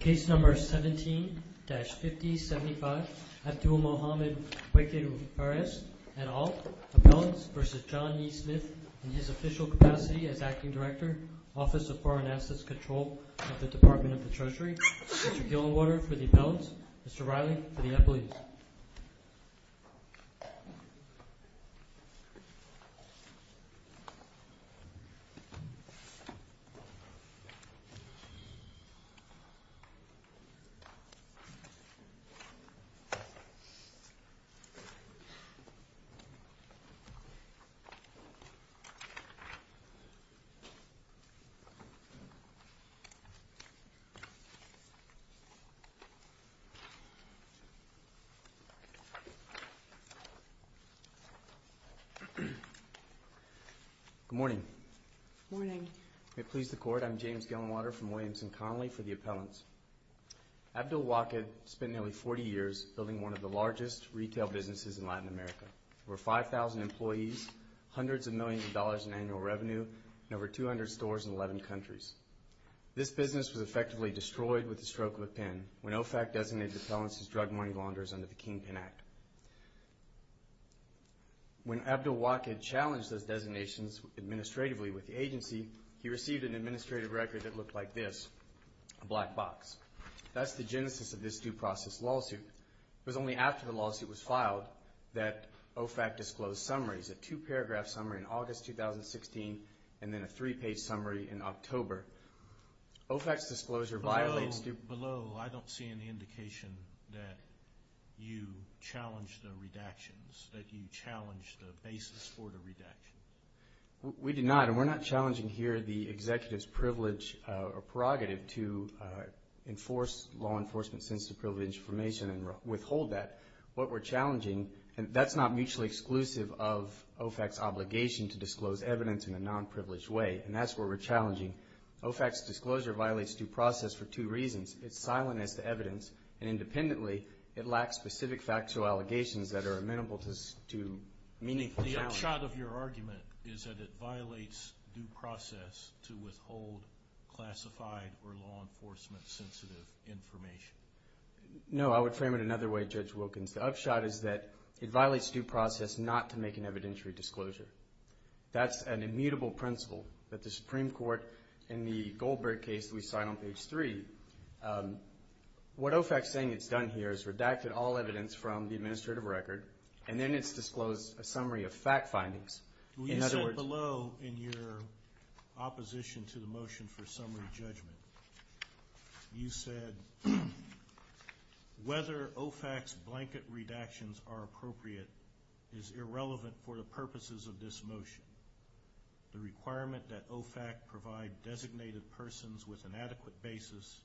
Case number 17-5075, Abdul Mohamed Waked Fares et al. Appellants v. John E. Smith in his official capacity as Acting Director, Office of Foreign Assets Control of the Department of the Treasury. Mr. Gillingwater for the appellants, Mr. Riley for the employees. Good morning. Good morning. May it please the Court, I'm James Gillingwater from Williams & Connolly for the appellants. Abdul Waked spent nearly 40 years building one of the largest retail businesses in Latin America. Over 5,000 employees, hundreds of millions of dollars in annual revenue, and over 200 stores in 11 countries. This business was effectively destroyed with the stroke of a pen when OFAC designated appellants as drug money launderers under the Kingpin Act. When Abdul Waked challenged those designations administratively with the agency, he received an administrative record that looked like this, a black box. That's the genesis of this due process lawsuit. It was only after the lawsuit was filed that OFAC disclosed summaries, a two-paragraph summary in August 2016 and then a three-page summary in October. OFAC's disclosure violates due process. I don't see any indication that you challenged the redactions, that you challenged the basis for the redaction. We did not, and we're not challenging here the executive's privilege or prerogative to enforce law enforcement sensitive privilege information and withhold that. What we're challenging, and that's not mutually exclusive of OFAC's obligation to disclose evidence in a non-privileged way, and that's what we're challenging. OFAC's disclosure violates due process for two reasons. It's silent as to evidence, and independently, it lacks specific factual allegations that are amenable to meaningful challenge. The upshot of your argument is that it violates due process to withhold classified or law enforcement sensitive information. No, I would frame it another way, Judge Wilkins. The upshot is that it violates due process not to make an evidentiary disclosure. That's an immutable principle that the Supreme Court, in the Goldberg case that we cite on page 3, what OFAC's saying it's done here is redacted all evidence from the administrative record, and then it's disclosed a summary of fact findings. You said below in your opposition to the motion for summary judgment, you said whether OFAC's blanket redactions are appropriate is irrelevant for the purposes of this motion. The requirement that OFAC provide designated persons with an adequate basis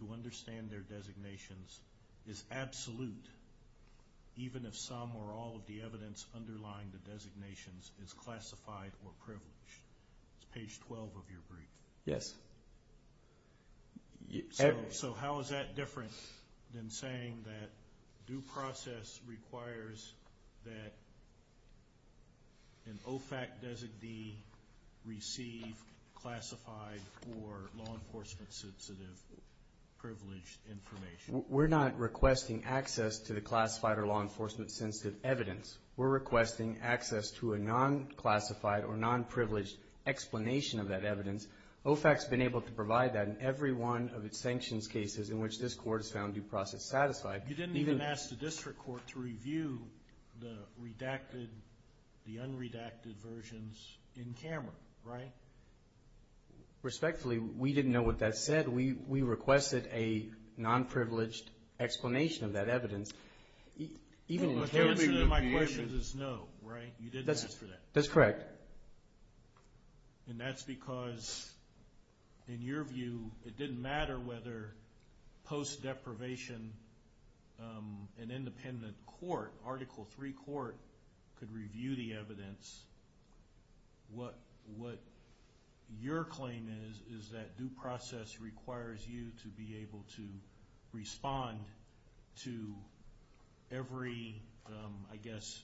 to understand their designations is absolute, even if some or all of the evidence underlying the designations is classified or privileged. It's page 12 of your brief. Yes. So how is that different than saying that due process requires that an OFAC designee receive classified or law enforcement sensitive privileged information? We're not requesting access to the classified or law enforcement sensitive evidence. We're requesting access to a non-classified or non-privileged explanation of that evidence. OFAC's been able to provide that in every one of its sanctions cases in which this Court has found due process satisfied. You didn't even ask the district court to review the redacted, the unredacted versions in camera, right? Respectfully, we didn't know what that said. We requested a non-privileged explanation of that evidence. The answer to my question is no, right? You didn't ask for that. That's correct. And that's because, in your view, it didn't matter whether post-deprivation, an independent court, Article III court, could review the evidence. What your claim is is that due process requires you to be able to respond to every, I guess,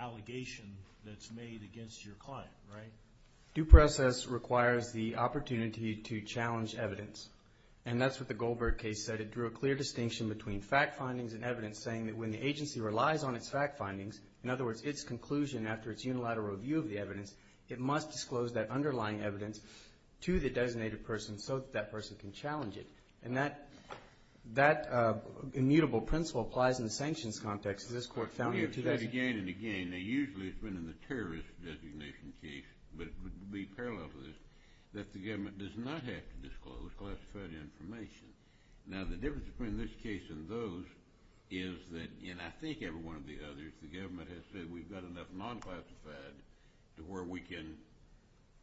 allegation that's made against your client, right? Due process requires the opportunity to challenge evidence. And that's what the Goldberg case said. It drew a clear distinction between fact findings and evidence, saying that when the agency relies on its fact findings, in other words, its conclusion after its unilateral review of the evidence, it must disclose that underlying evidence to the designated person so that that person can challenge it. And that immutable principle applies in the sanctions context. Again and again, and usually it's been in the terrorist designation case, but it would be parallel to this, that the government does not have to disclose classified information. Now, the difference between this case and those is that, and I think every one of the others, the government has said we've got enough non-classified to where we can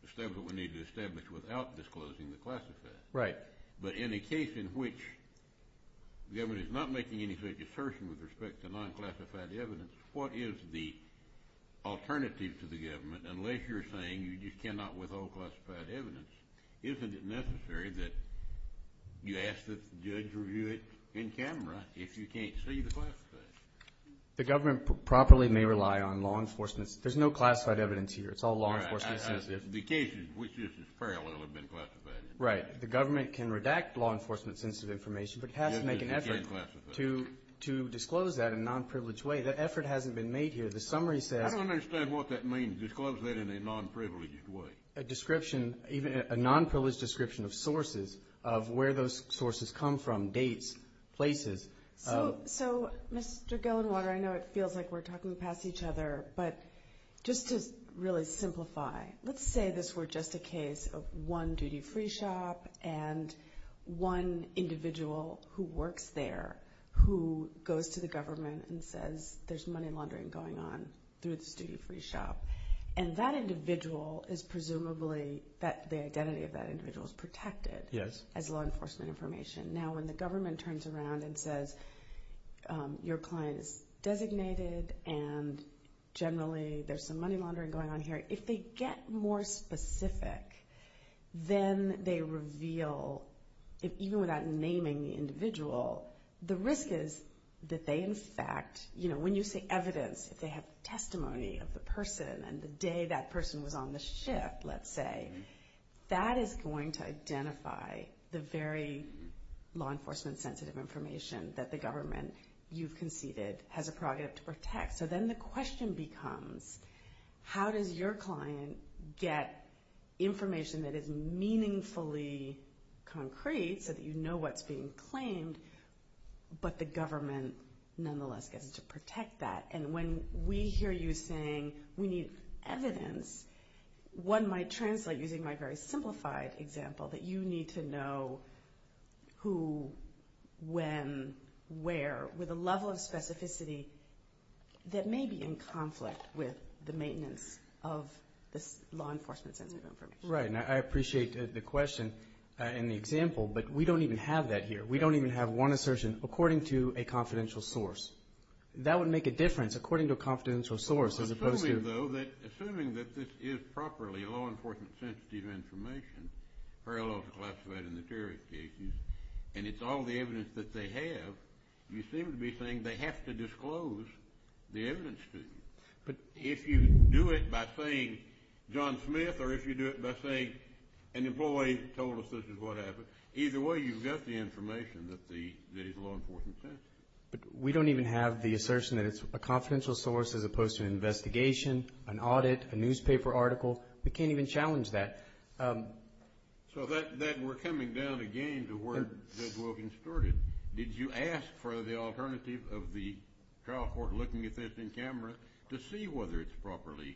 establish what we need to establish without disclosing the classified. Right. But in a case in which the government is not making any assertion with respect to non-classified evidence, what is the alternative to the government unless you're saying you just cannot withhold classified evidence? Isn't it necessary that you ask that the judge review it in camera if you can't see the classified? The government properly may rely on law enforcement. There's no classified evidence here. It's all law enforcement. The cases which this is parallel have been classified. Right. The government can redact law enforcement sensitive information, but it has to make an effort to disclose that in a non-privileged way. That effort hasn't been made here. The summary says— I don't understand what that means, disclose that in a non-privileged way. A description, even a non-privileged description of sources, of where those sources come from, dates, places. So, Mr. Gellinwater, I know it feels like we're talking past each other, but just to really simplify, let's say this were just a case of one duty-free shop and one individual who works there who goes to the government and says there's money laundering going on through this duty-free shop, and that individual is presumably—the identity of that individual is protected as law enforcement information. Now, when the government turns around and says your client is designated and generally there's some money laundering going on here, if they get more specific, then they reveal, even without naming the individual, the risk is that they in fact— when you say evidence, if they have testimony of the person and the day that person was on the ship, let's say, that is going to identify the very law enforcement sensitive information that the government you've conceded has a prerogative to protect. So then the question becomes, how does your client get information that is meaningfully concrete so that you know what's being claimed, but the government nonetheless gets to protect that? And when we hear you saying we need evidence, one might translate using my very simplified example that you need to know who, when, where, with a level of specificity that may be in conflict with the maintenance of this law enforcement sensitive information. Right, and I appreciate the question and the example, but we don't even have that here. We don't even have one assertion according to a confidential source. That would make a difference, according to a confidential source, as opposed to— Assuming, though, that—assuming that this is properly law enforcement sensitive information, parallel to what's classified in the terrorist cases, and it's all the evidence that they have, you seem to be saying they have to disclose the evidence to you. If you do it by saying John Smith, or if you do it by saying an employee told us this is what happened, either way you've got the information that is law enforcement sensitive. But we don't even have the assertion that it's a confidential source as opposed to an investigation, an audit, a newspaper article. We can't even challenge that. So that—we're coming down again to where Doug Wilkins started. Did you ask for the alternative of the trial court looking at this in camera to see whether it's properly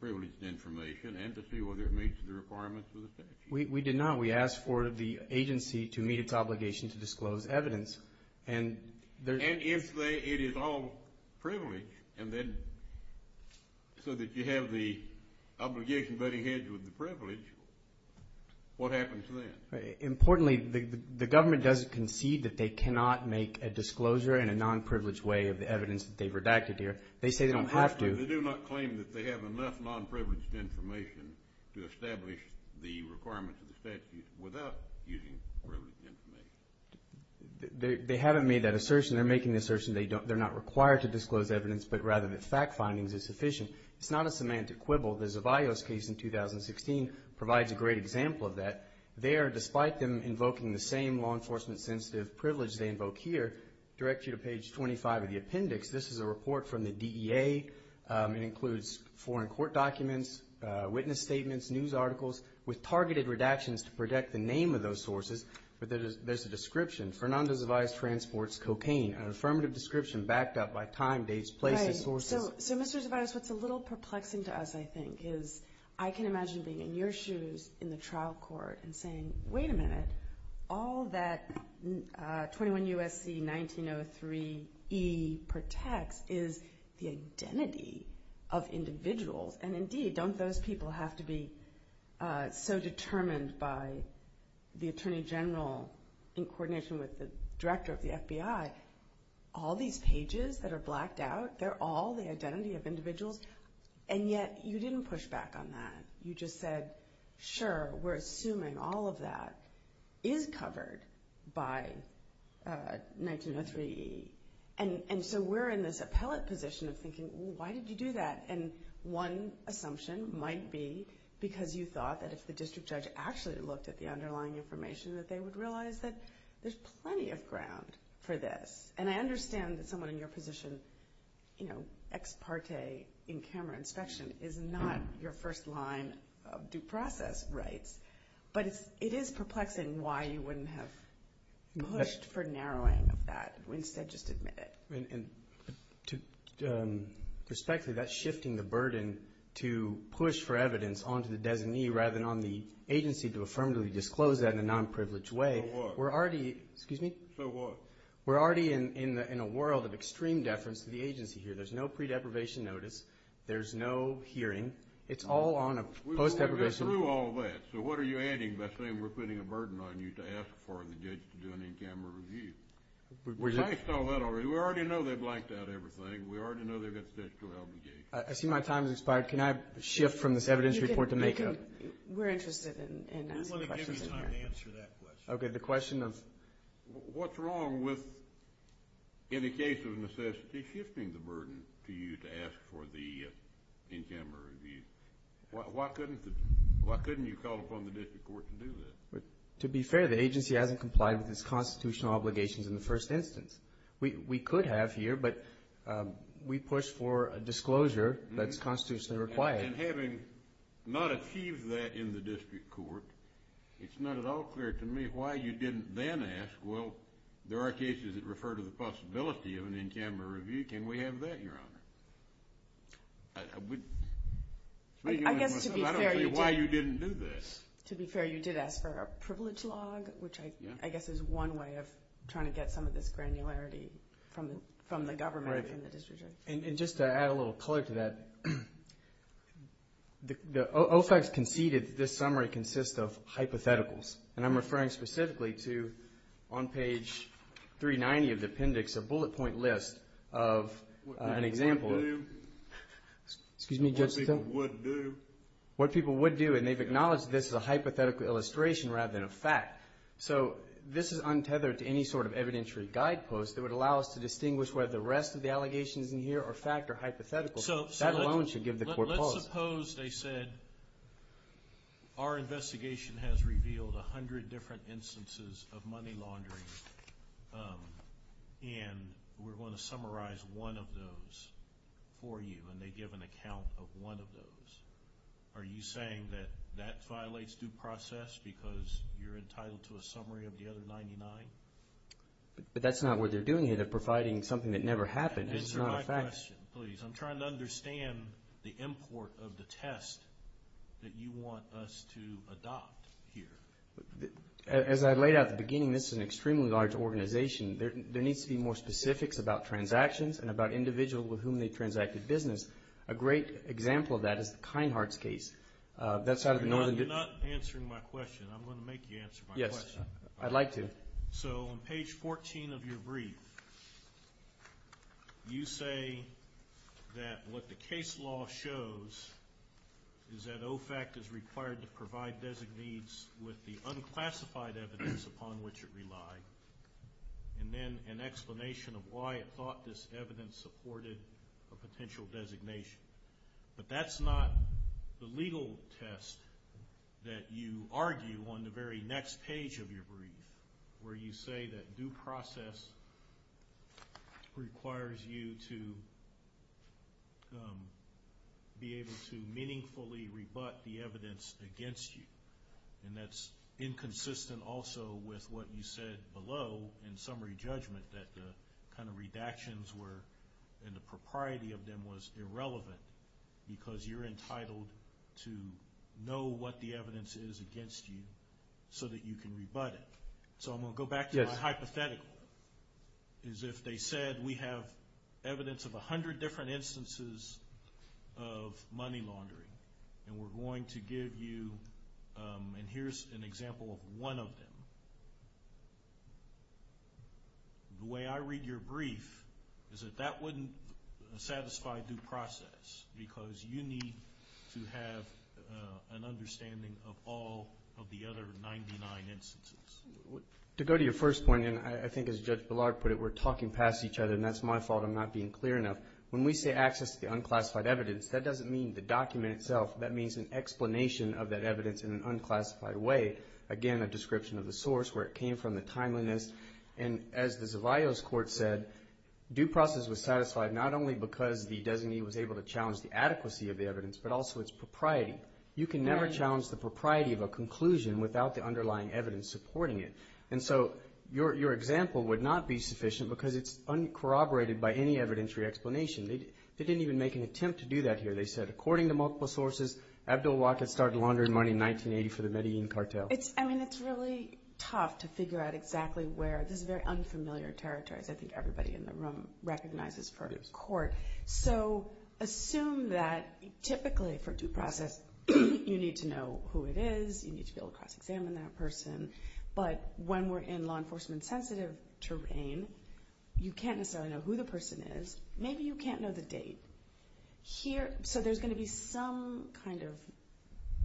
privileged information and to see whether it meets the requirements of the statute? We did not. We asked for the agency to meet its obligation to disclose evidence, and there's— And if it is all privileged, and then so that you have the obligation butting heads with the privilege, what happens then? Importantly, the government doesn't concede that they cannot make a disclosure in a nonprivileged way of the evidence that they've redacted here. They say they don't have to. They do not claim that they have enough nonprivileged information to establish the requirements of the statute without using privileged information. They haven't made that assertion. They're making the assertion they're not required to disclose evidence, but rather that fact findings is sufficient. It's not a semantic quibble. The Zavaios case in 2016 provides a great example of that. There, despite them invoking the same law enforcement-sensitive privilege they invoke here, direct you to page 25 of the appendix. This is a report from the DEA. It includes foreign court documents, witness statements, news articles, with targeted redactions to protect the name of those sources, but there's a description. Fernando Zavaios transports cocaine, an affirmative description backed up by time, dates, places, sources. Right. So, Mr. Zavaios, what's a little perplexing to us, I think, is I can imagine being in your shoes in the trial court and saying, wait a minute, all that 21 U.S.C. 1903 E protects is the identity of individuals. And, indeed, don't those people have to be so determined by the attorney general in coordination with the director of the FBI? All these pages that are blacked out, they're all the identity of individuals, and yet you didn't push back on that. You just said, sure, we're assuming all of that is covered by 1903 E. And so we're in this appellate position of thinking, why did you do that? And one assumption might be because you thought that if the district judge actually looked at the underlying information, that they would realize that there's plenty of ground for this. And I understand that someone in your position, you know, ex parte in camera inspection is not your first line of due process rights, but it is perplexing why you wouldn't have pushed for narrowing of that. Instead, just admit it. And, respectfully, that's shifting the burden to push for evidence onto the designee rather than on the agency to affirmatively disclose that in a nonprivileged way. For what? For what? We're already in a world of extreme deference to the agency here. There's no pre-deprivation notice. There's no hearing. It's all on a post-deprivation notice. We've already been through all that, so what are you adding by saying we're putting a burden on you to ask for the judge to do an in-camera review? We've faced all that already. We already know they've blacked out everything. We already know they've got the judge to help the case. I see my time has expired. Can I shift from this evidence report to make up? We're interested in asking questions in here. We want to give you time to answer that question. Okay, the question of? What's wrong with, in the case of necessity, shifting the burden to you to ask for the in-camera review? Why couldn't you call upon the district court to do that? To be fair, the agency hasn't complied with its constitutional obligations in the first instance. We could have here, but we push for a disclosure that's constitutionally required. And having not achieved that in the district court, it's not at all clear to me why you didn't then ask, well, there are cases that refer to the possibility of an in-camera review. Can we have that, Your Honor? I don't see why you didn't do that. To be fair, you did ask for a privilege log, which I guess is one way of trying to get some of this granularity from the government and the district court. And just to add a little color to that, OFAC's conceded that this summary consists of hypotheticals. And I'm referring specifically to, on page 390 of the appendix, a bullet point list of an example of what people would do. And they've acknowledged this is a hypothetical illustration rather than a fact. So this is untethered to any sort of evidentiary guidepost that would allow us to distinguish whether the rest of the allegations in here are fact or hypothetical. That alone should give the court pause. Let's suppose they said, our investigation has revealed a hundred different instances of money laundering, and we're going to summarize one of those for you, and they give an account of one of those. Are you saying that that violates due process because you're entitled to a summary of the other 99? But that's not what they're doing here. They're providing something that never happened. This is not a fact. One question, please. I'm trying to understand the import of the test that you want us to adopt here. As I laid out at the beginning, this is an extremely large organization. There needs to be more specifics about transactions and about individuals with whom they've transacted business. A great example of that is the Kinehart's case. That's out of the Northern District. You're not answering my question. I'm going to make you answer my question. Yes, I'd like to. All right, so on page 14 of your brief, you say that what the case law shows is that OFAC is required to provide designees with the unclassified evidence upon which it relied and then an explanation of why it thought this evidence supported a potential designation. But that's not the legal test that you argue on the very next page of your brief where you say that due process requires you to be able to meaningfully rebut the evidence against you. And that's inconsistent also with what you said below in summary judgment that the kind of redactions were and the propriety of them was irrelevant because you're entitled to know what the evidence is against you so that you can rebut it. So I'm going to go back to my hypothetical, is if they said we have evidence of 100 different instances of money laundering and we're going to give you, and here's an example of one of them. The way I read your brief is that that wouldn't satisfy due process because you need to have an understanding of all of the other 99 instances. To go to your first point, and I think as Judge Bellard put it, we're talking past each other, and that's my fault I'm not being clear enough. When we say access to the unclassified evidence, that doesn't mean the document itself. That means an explanation of that evidence in an unclassified way. Again, a description of the source, where it came from, the timeliness. And as the Zavaios Court said, due process was satisfied not only because the designee was able to challenge the adequacy of the evidence but also its propriety. You can never challenge the propriety of a conclusion without the underlying evidence supporting it. And so your example would not be sufficient because it's uncorroborated by any evidentiary explanation. They didn't even make an attempt to do that here. They said according to multiple sources, Abdul-Waqid started laundering money in 1980 for the Medellin cartel. It's really tough to figure out exactly where. This is very unfamiliar territory. I think everybody in the room recognizes for a court. So assume that typically for due process you need to know who it is. You need to be able to cross-examine that person. But when we're in law enforcement-sensitive terrain, you can't necessarily know who the person is. Maybe you can't know the date. So there's going to be some kind of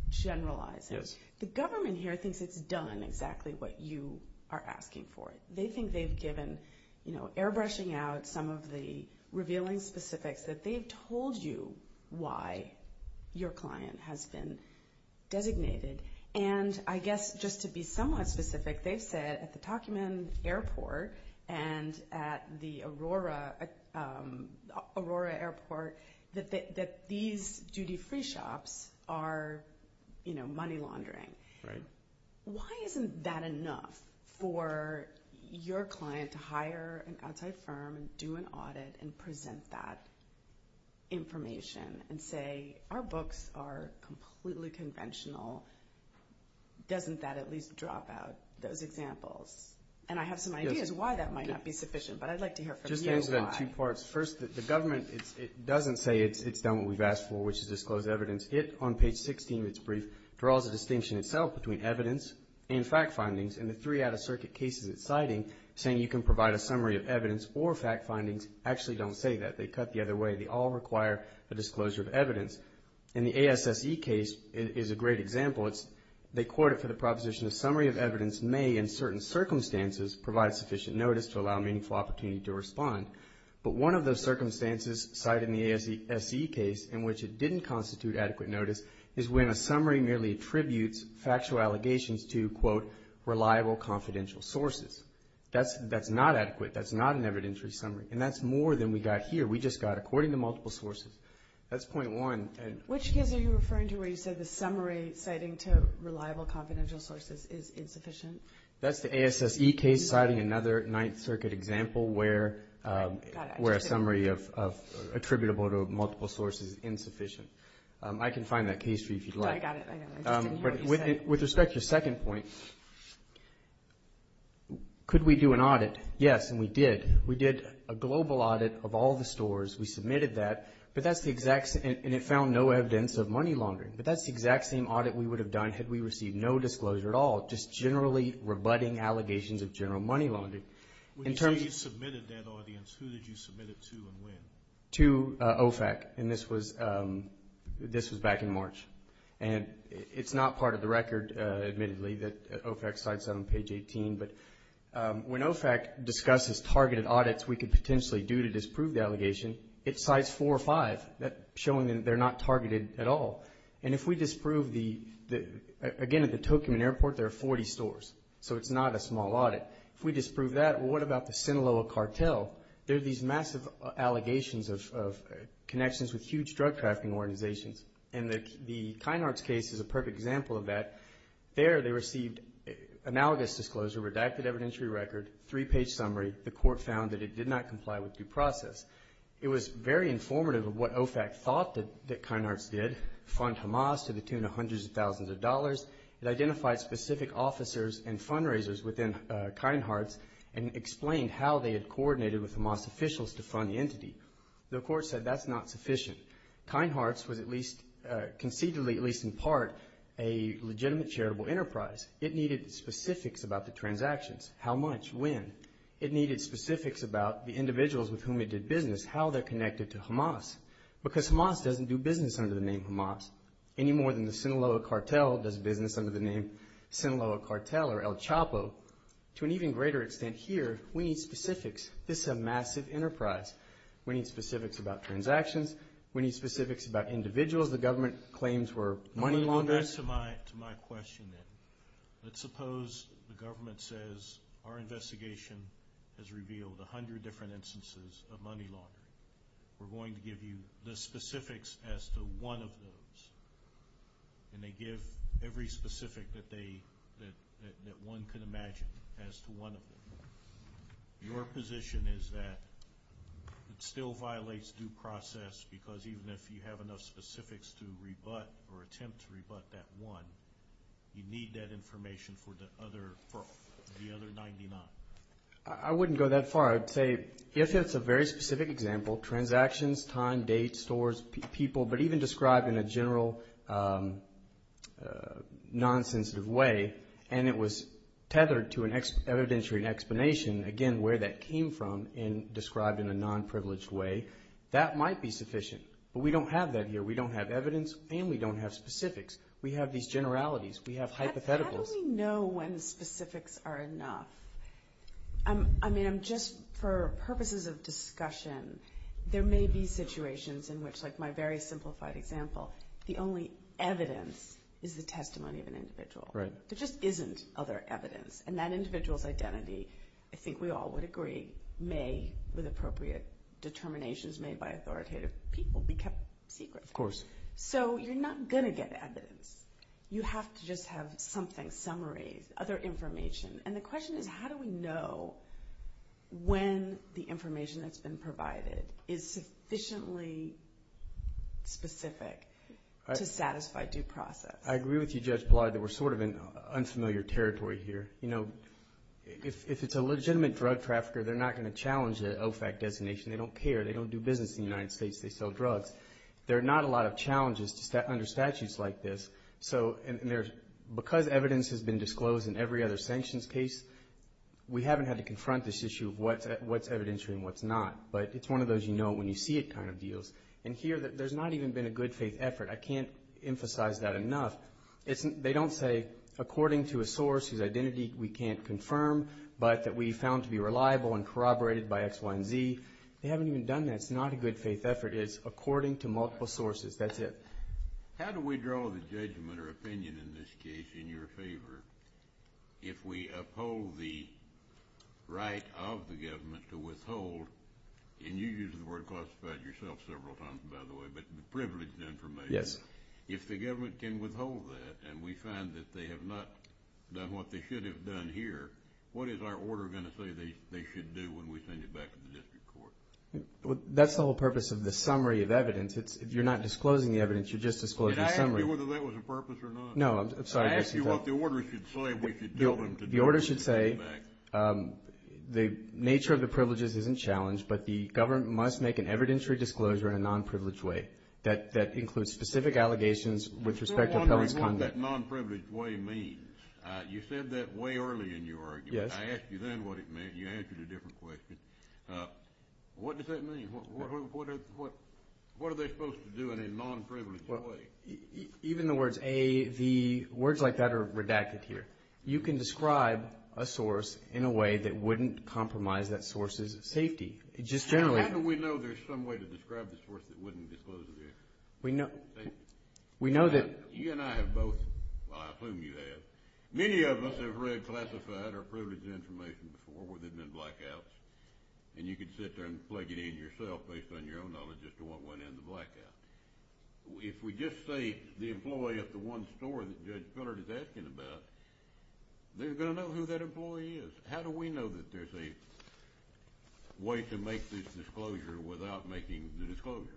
generalizing. The government here thinks it's done exactly what you are asking for. They think they've given airbrushing out some of the revealing specifics, that they've told you why your client has been designated. And I guess just to be somewhat specific, they've said at the Takumen Airport and at the Aurora Airport that these duty-free shops are money laundering. Why isn't that enough for your client to hire an outside firm, do an audit, and present that information and say, Our books are completely conventional. Doesn't that at least drop out those examples? And I have some ideas why that might not be sufficient, but I'd like to hear from you why. Just answer that in two parts. First, the government doesn't say it's done what we've asked for, which is disclose evidence. It, on page 16 of its brief, draws a distinction itself between evidence and fact findings. In the three out-of-circuit cases it's citing, saying you can provide a summary of evidence or fact findings, actually don't say that. They cut the other way. They all require a disclosure of evidence. And the ASSE case is a great example. They quote it for the proposition, A summary of evidence may, in certain circumstances, provide sufficient notice to allow meaningful opportunity to respond. But one of the circumstances cited in the ASSE case in which it didn't constitute adequate notice is when a summary merely attributes factual allegations to, quote, reliable confidential sources. That's not adequate. That's not an evidentiary summary. And that's more than we got here. We just got according to multiple sources. That's point one. Which case are you referring to where you said the summary citing to reliable confidential sources is insufficient? That's the ASSE case citing another Ninth Circuit example where a summary attributable to multiple sources is insufficient. I can find that case for you if you'd like. I got it. I just didn't hear what you said. With respect to your second point, could we do an audit? Yes, and we did. We did a global audit of all the stores. We submitted that, and it found no evidence of money laundering. But that's the exact same audit we would have done had we received no disclosure at all, just generally rebutting allegations of general money laundering. When you say you submitted that audience, who did you submit it to and when? To OFAC, and this was back in March. And it's not part of the record, admittedly, that OFAC cites on page 18. But when OFAC discusses targeted audits we could potentially do to disprove the allegation, it cites four or five showing that they're not targeted at all. And if we disprove the – again, at the Tokoman Airport, there are 40 stores, so it's not a small audit. If we disprove that, well, what about the Sinaloa cartel? There are these massive allegations of connections with huge drug trafficking organizations, and the Kynards case is a perfect example of that. There they received analogous disclosure, redacted evidentiary record, three-page summary. The court found that it did not comply with due process. It was very informative of what OFAC thought that Kynards did, fund Hamas to the tune of hundreds of thousands of dollars. It identified specific officers and fundraisers within Kynards and explained how they had coordinated with Hamas officials to fund the entity. The court said that's not sufficient. Kynards was at least conceivably, at least in part, a legitimate charitable enterprise. It needed specifics about the transactions, how much, when. It needed specifics about the individuals with whom it did business, how they're connected to Hamas. Because Hamas doesn't do business under the name Hamas, any more than the Sinaloa cartel does business under the name Sinaloa cartel or El Chapo. To an even greater extent here, we need specifics. This is a massive enterprise. We need specifics about transactions. We need specifics about individuals the government claims were money launderers. Let me get to my question then. Let's suppose the government says our investigation has revealed 100 different instances of money laundering. We're going to give you the specifics as to one of those, and they give every specific that one could imagine as to one of them. Your position is that it still violates due process because even if you have enough specifics to rebut or attempt to rebut that one, you need that information for the other 99. I wouldn't go that far. I'd say if it's a very specific example, transactions, time, date, stores, people, but even described in a general nonsensitive way, and it was tethered to an evidentiary explanation, again, where that came from and described in a nonprivileged way, that might be sufficient. But we don't have that here. We don't have evidence, and we don't have specifics. We have these generalities. We have hypotheticals. How do we know when specifics are enough? I mean, just for purposes of discussion, there may be situations in which, like my very simplified example, the only evidence is the testimony of an individual. There just isn't other evidence. And that individual's identity, I think we all would agree, may, with appropriate determinations made by authoritative people, be kept secret. Of course. So you're not going to get evidence. You have to just have something, summaries, other information. And the question is how do we know when the information that's been provided is sufficiently specific to satisfy due process? I agree with you, Judge Pillard, that we're sort of in unfamiliar territory here. You know, if it's a legitimate drug trafficker, they're not going to challenge the OFAC designation. They don't care. They don't do business in the United States. They sell drugs. There are not a lot of challenges under statutes like this. So because evidence has been disclosed in every other sanctions case, we haven't had to confront this issue of what's evidentiary and what's not. But it's one of those you know it when you see it kind of deals. And here there's not even been a good faith effort. I can't emphasize that enough. They don't say according to a source whose identity we can't confirm, but that we found to be reliable and corroborated by X, Y, and Z. They haven't even done that. It's not a good faith effort. It's according to multiple sources. That's it. How do we draw the judgment or opinion in this case in your favor if we uphold the right of the government to withhold, and you use the word classified yourself several times, by the way, but privileged information. Yes. If the government can withhold that and we find that they have not done what they should have done here, what is our order going to say they should do when we send it back to the district court? That's the whole purpose of the summary of evidence. If you're not disclosing the evidence, you're just disclosing the summary. Did I ask you whether that was a purpose or not? No, I'm sorry. I asked you what the order should say if we should tell them to do it. The order should say the nature of the privileges isn't challenged, but the government must make an evidentiary disclosure in a non-privileged way that includes specific allegations with respect to appellant's conduct. I'm still wondering what that non-privileged way means. You said that way early in your argument. Yes. I asked you then what it meant. You answered a different question. What does that mean? What are they supposed to do in a non-privileged way? Even the words A, V, words like that are redacted here. You can describe a source in a way that wouldn't compromise that source's safety. Just generally. How do we know there's some way to describe the source that wouldn't disclose the evidence? We know that. You and I have both, well, I assume you have. Many of us have read classified or privileged information before that have been blackouts, and you can sit there and plug it in yourself based on your own knowledge as to what went in the blackout. If we just say the employee at the one store that Judge Fillard is asking about, they're going to know who that employee is. How do we know that there's a way to make this disclosure without making the disclosure?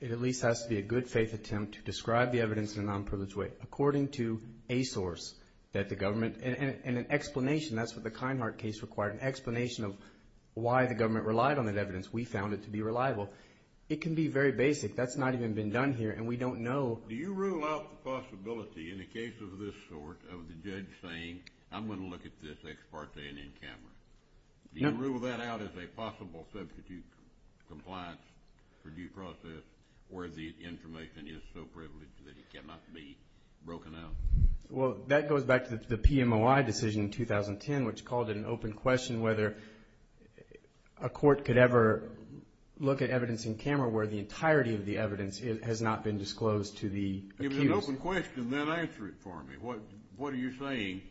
It at least has to be a good faith attempt to describe the evidence in a non-privileged way according to a source that the government, and an explanation, that's what the Kinehart case required, an explanation of why the government relied on that evidence. We found it to be reliable. It can be very basic. That's not even been done here, and we don't know. Do you rule out the possibility in the case of this sort of the judge saying, I'm going to look at this ex parte and in camera? Do you rule that out as a possible substitute compliance for due process where the information is so privileged that it cannot be broken out? Well, that goes back to the PMOI decision in 2010, which called it an open question whether a court could ever look at evidence in camera where the entirety of the evidence has not been disclosed to the accused. If it's an open question, then answer it for me. What are you saying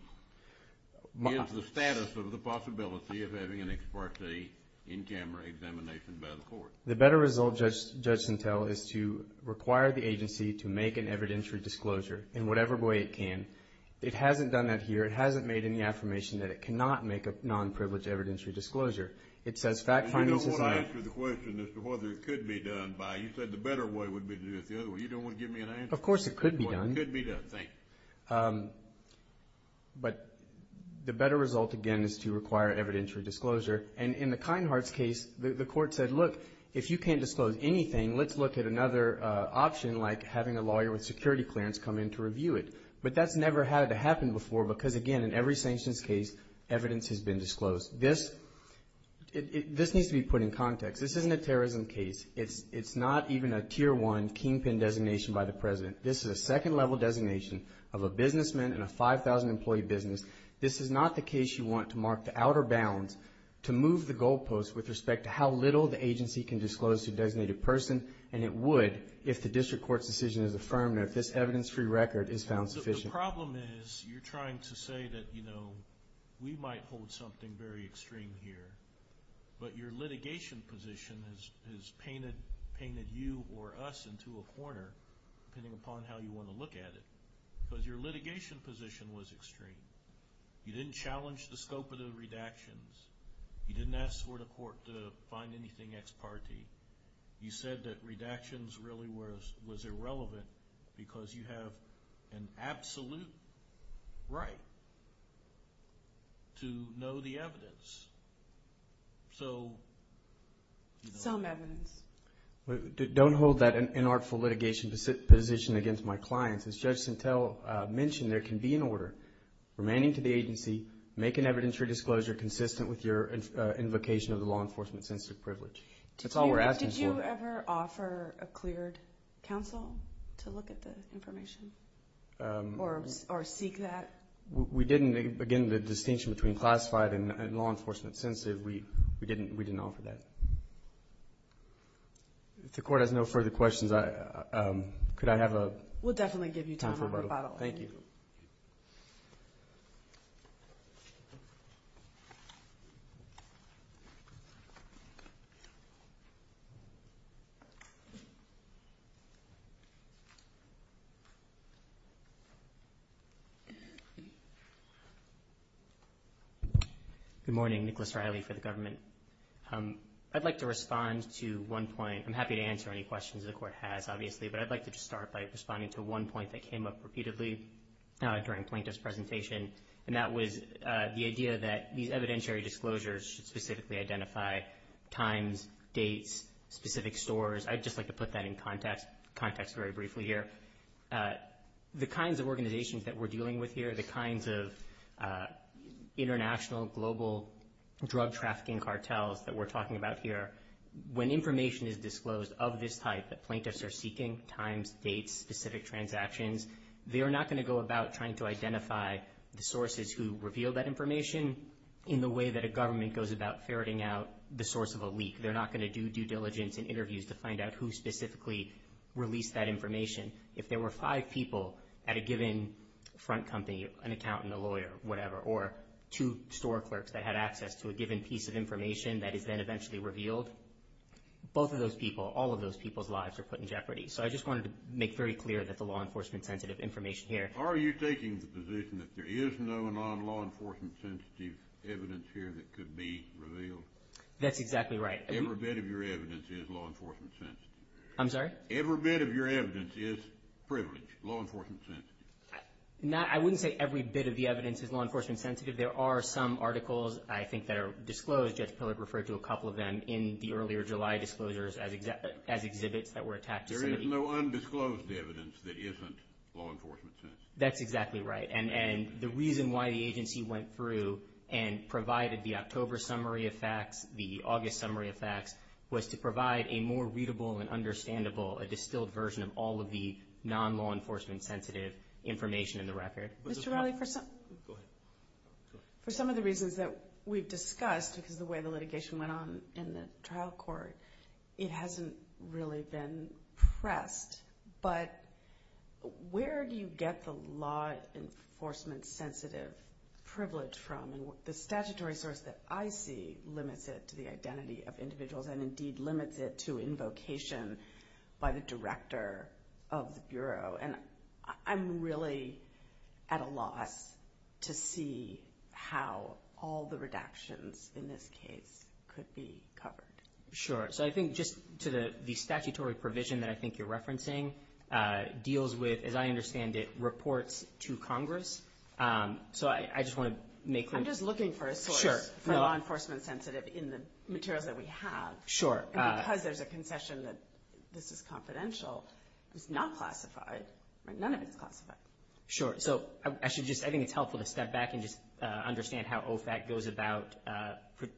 is the status of the possibility of having an ex parte in camera examination by the court? The better result, Judge Sintel, is to require the agency to make an evidentiary disclosure in whatever way it can. It hasn't done that here. It hasn't made any affirmation that it cannot make a non-privileged evidentiary disclosure. It says fact findings. You don't want to answer the question as to whether it could be done by. You said the better way would be to do it the other way. You don't want to give me an answer. Of course it could be done. It could be done, thank you. But the better result, again, is to require evidentiary disclosure. And in the Kinehart's case, the court said, look, if you can't disclose anything, let's look at another option like having a lawyer with security clearance come in to review it. But that's never had to happen before because, again, in every sanctions case, evidence has been disclosed. This needs to be put in context. This isn't a terrorism case. It's not even a Tier 1 kingpin designation by the President. This is a second level designation of a businessman in a 5,000-employee business. This is not the case you want to mark the outer bounds to move the goalposts with respect to how little the agency can disclose to a designated person, and it would if the district court's decision is affirmed or if this evidence-free record is found sufficient. The problem is you're trying to say that, you know, we might hold something very extreme here, but your litigation position has painted you or us into a corner, depending upon how you want to look at it, because your litigation position was extreme. You didn't challenge the scope of the redactions. You didn't ask for the court to find anything ex parte. You said that redactions really was irrelevant because you have an absolute right to know the evidence. So... Some evidence. Don't hold that inartful litigation position against my clients. As Judge Sintel mentioned, there can be an order remaining to the agency, make an evidence-free disclosure consistent with your invocation of the law enforcement-sensitive privilege. That's all we're asking for. Did you ever offer a cleared counsel to look at the information or seek that? We didn't. Again, the distinction between classified and law enforcement-sensitive, we didn't offer that. If the court has no further questions, could I have a... Thank you. Good morning. Nicholas Riley for the government. I'd like to respond to one point. I'm happy to answer any questions the court has, obviously, but I'd like to just start by responding to one point that came up repeatedly during Plaintiff's presentation, and that was the idea that these evidentiary disclosures should specifically identify times, dates, specific stores. I'd just like to put that in context very briefly here. The kinds of organizations that we're dealing with here, the kinds of international global drug trafficking cartels that we're talking about here, when information is disclosed of this type that plaintiffs are seeking, times, dates, specific transactions, they are not going to go about trying to identify the sources who revealed that information in the way that a government goes about ferreting out the source of a leak. They're not going to do due diligence in interviews to find out who specifically released that information. If there were five people at a given front company, an accountant, a lawyer, whatever, or two store clerks that had access to a given piece of information that is then eventually revealed, both of those people, all of those people's lives are put in jeopardy. So I just wanted to make very clear that the law enforcement sensitive information here. Are you taking the position that there is no and non-law enforcement sensitive evidence here that could be revealed? That's exactly right. Every bit of your evidence is law enforcement sensitive. I'm sorry? Every bit of your evidence is privileged, law enforcement sensitive. I wouldn't say every bit of the evidence is law enforcement sensitive. There are some articles I think that are disclosed. Judge Pillard referred to a couple of them in the earlier July disclosures as exhibits that were attacked. There is no undisclosed evidence that isn't law enforcement sensitive. That's exactly right. And the reason why the agency went through and provided the October summary of facts, the August summary of facts, was to provide a more readable and understandable, a distilled version of all of the non-law enforcement sensitive information in the record. Mr. Riley, for some of the reasons that we've discussed, because of the way the litigation went on in the trial court, it hasn't really been pressed, but where do you get the law enforcement sensitive privilege from? The statutory source that I see limits it to the identity of individuals and indeed limits it to invocation by the director of the Bureau. And I'm really at a loss to see how all the redactions in this case could be covered. Sure. So I think just to the statutory provision that I think you're referencing deals with, as I understand it, reports to Congress. So I just want to make clear. I'm just looking for a source for law enforcement sensitive in the materials that we have. Sure. And because there's a concession that this is confidential, it's not classified. None of it's classified. Sure. So I think it's helpful to step back and just understand how OFAC goes about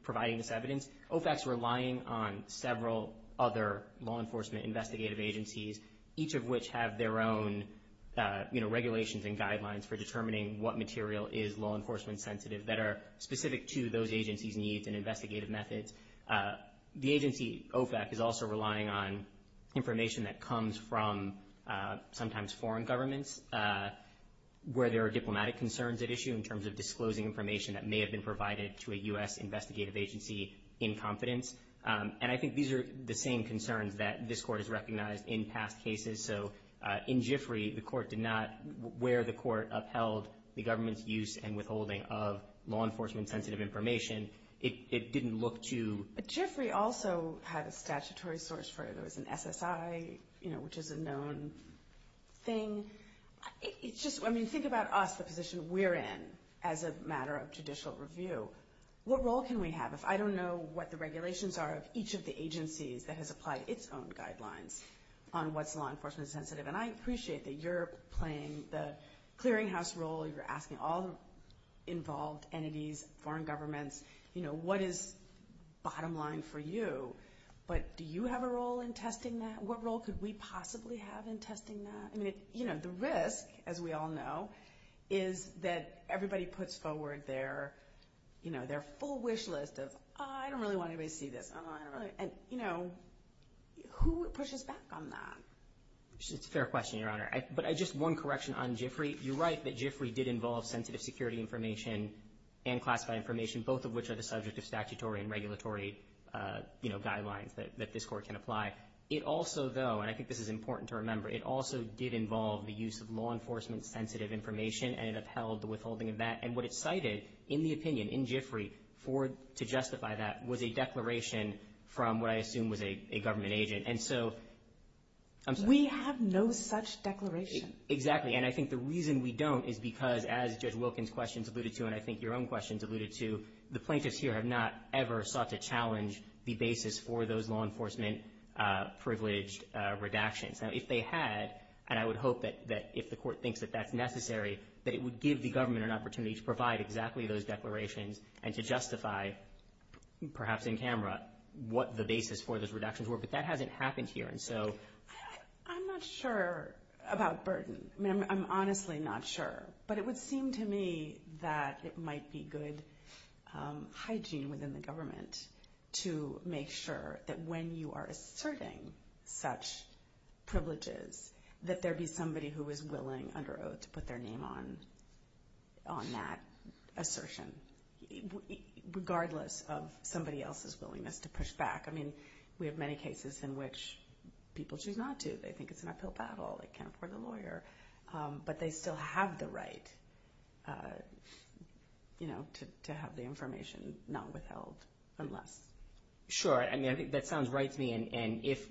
providing this evidence. OFAC's relying on several other law enforcement investigative agencies, each of which have their own regulations and guidelines for determining what material is law enforcement sensitive that are specific to those agencies' needs and investigative methods. The agency OFAC is also relying on information that comes from sometimes foreign governments where there are diplomatic concerns at issue in terms of disclosing information that may have been provided to a U.S. investigative agency in confidence. And I think these are the same concerns that this Court has recognized in past cases. So in GIFRI, where the Court upheld the government's use and withholding of law enforcement sensitive information, it didn't look to— GIFRI also had a statutory source for it. There was an SSI, which is a known thing. I mean, think about us, the position we're in as a matter of judicial review. What role can we have if I don't know what the regulations are of each of the agencies that has applied its own guidelines on what's law enforcement sensitive? And I appreciate that you're playing the clearinghouse role. You're asking all the involved entities, foreign governments, you know, what is bottom line for you? But do you have a role in testing that? What role could we possibly have in testing that? I mean, you know, the risk, as we all know, is that everybody puts forward their, you know, their full wish list of, oh, I don't really want anybody to see this. Oh, I don't really—and, you know, who pushes back on that? It's a fair question, Your Honor. But just one correction on GIFRI. You're right that GIFRI did involve sensitive security information and classified information, both of which are the subject of statutory and regulatory, you know, guidelines that this Court can apply. It also, though, and I think this is important to remember, it also did involve the use of law enforcement sensitive information, and it upheld the withholding of that. And what it cited in the opinion in GIFRI to justify that was a declaration from what I assume was a government agent. And so—I'm sorry. We have no such declaration. Exactly. And I think the reason we don't is because, as Judge Wilkins' questions alluded to and I think your own questions alluded to, the plaintiffs here have not ever sought to challenge the basis for those law enforcement privileged redactions. Now, if they had, and I would hope that if the Court thinks that that's necessary, that it would give the government an opportunity to provide exactly those declarations and to justify, perhaps in camera, what the basis for those redactions were. But that hasn't happened here. And so— I'm not sure about burden. I mean, I'm honestly not sure. But it would seem to me that it might be good hygiene within the government to make sure that when you are asserting such privileges, that there be somebody who is willing under oath to put their name on that assertion, regardless of somebody else's willingness to push back. I mean, we have many cases in which people choose not to. They think it's an uphill battle. They can't afford a lawyer. But they still have the right to have the information not withheld unless— Sure. I mean, I think that sounds right to me. And if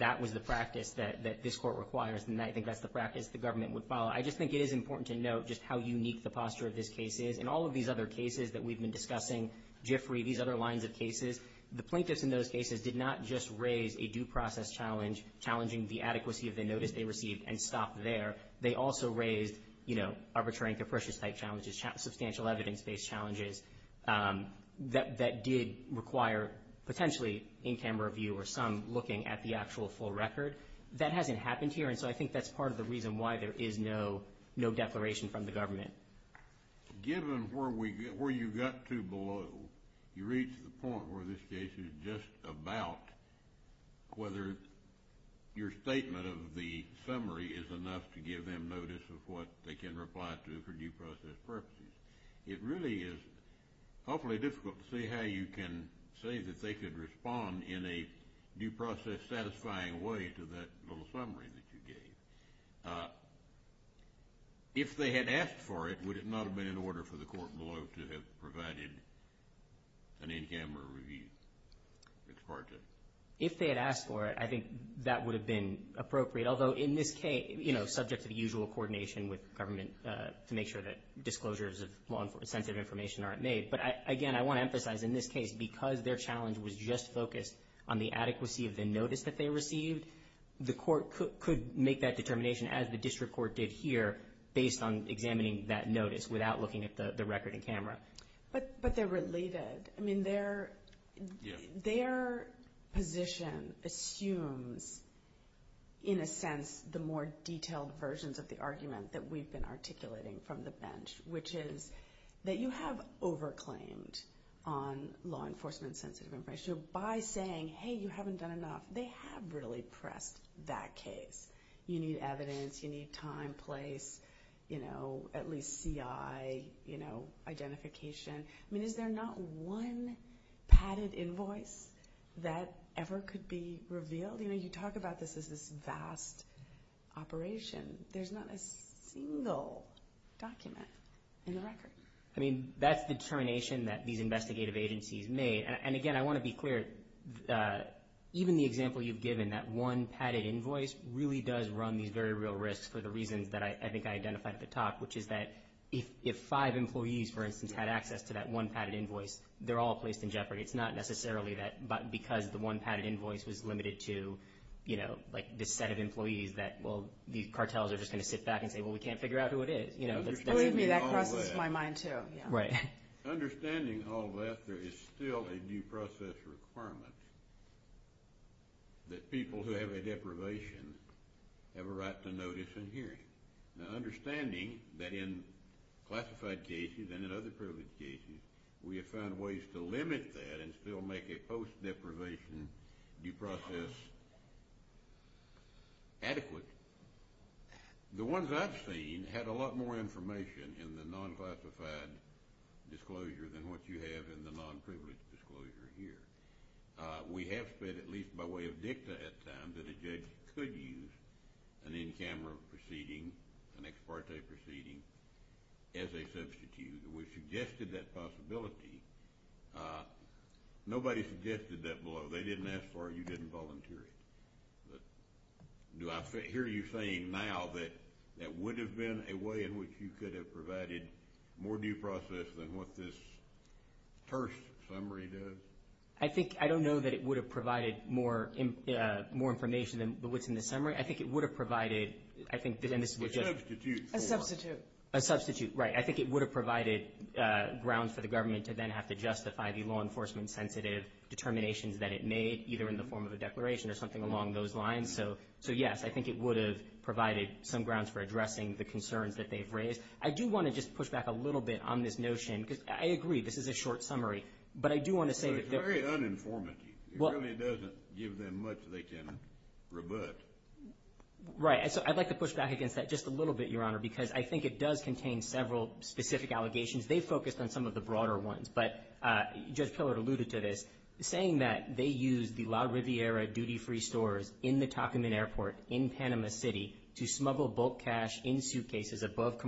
that was the practice that this Court requires, then I think that's the practice the government would follow. I just think it is important to note just how unique the posture of this case is. In all of these other cases that we've been discussing, Jiffrey, these other lines of cases, the plaintiffs in those cases did not just raise a due process challenge challenging the adequacy of the notice they received and stop there. They also raised, you know, arbitrary and capricious type challenges, substantial evidence-based challenges that did require potentially in camera view or some looking at the actual full record. That hasn't happened here. And so I think that's part of the reason why there is no declaration from the government. Given where you got to below, you reach the point where this case is just about whether your statement of the summary is enough to give them notice of what they can reply to for due process purposes. It really is hopefully difficult to see how you can say that they could respond in a due process satisfying way to that little summary that you gave. If they had asked for it, would it not have been in order for the court below to have provided an in-camera review? If they had asked for it, I think that would have been appropriate. Although in this case, you know, subject to the usual coordination with government to make sure that disclosures of sensitive information aren't made. But again, I want to emphasize in this case, because their challenge was just focused on the adequacy of the notice that they received, the court could make that determination as the district court did here based on examining that notice without looking at the record in camera. But they're related. I mean, their position assumes, in a sense, the more detailed versions of the argument that we've been articulating from the bench, which is that you have over claimed on law enforcement sensitive information by saying, hey, you haven't done enough. They have really pressed that case. You need evidence. You need time, place, you know, at least CI, you know, identification. I mean, is there not one padded invoice that ever could be revealed? You know, you talk about this as this vast operation. There's not a single document in the record. I mean, that's the determination that these investigative agencies made. And, again, I want to be clear. Even the example you've given, that one padded invoice, really does run these very real risks for the reasons that I think I identified at the top, which is that if five employees, for instance, had access to that one padded invoice, they're all placed in jeopardy. It's not necessarily that because the one padded invoice was limited to, you know, like this set of employees that, well, the cartels are just going to sit back and say, well, we can't figure out who it is. Believe me, that crosses my mind too. Understanding all of that, there is still a due process requirement that people who have a deprivation have a right to notice and hearing. Now, understanding that in classified cases and in other privileged cases, we have found ways to limit that and still make a post-deprivation due process adequate. The ones I've seen had a lot more information in the non-classified disclosure than what you have in the non-privileged disclosure here. We have said, at least by way of dicta at times, that a judge could use an in-camera proceeding, an ex parte proceeding, as a substitute. We've suggested that possibility. Nobody suggested that below. They didn't ask for it. You didn't volunteer it. Do I hear you saying now that that would have been a way in which you could have provided more due process than what this terse summary does? I don't know that it would have provided more information than what's in the summary. I think it would have provided, I think, and this is just— A substitute. A substitute, right. I think it would have provided grounds for the government to then have to justify the law enforcement-sensitive determinations that it made, either in the form of a declaration or something along those lines. So, yes, I think it would have provided some grounds for addressing the concerns that they've raised. I do want to just push back a little bit on this notion, because I agree, this is a short summary, but I do want to say that— It's very uninformative. It really doesn't give them much they can rebut. Right. So I'd like to push back against that just a little bit, Your Honor, because I think it does contain several specific allegations. They focused on some of the broader ones, but Judge Pillard alluded to this, saying that they used the La Riviera duty-free stores in the Tacomin Airport in Panama City to smuggle bulk cash in suitcases aboard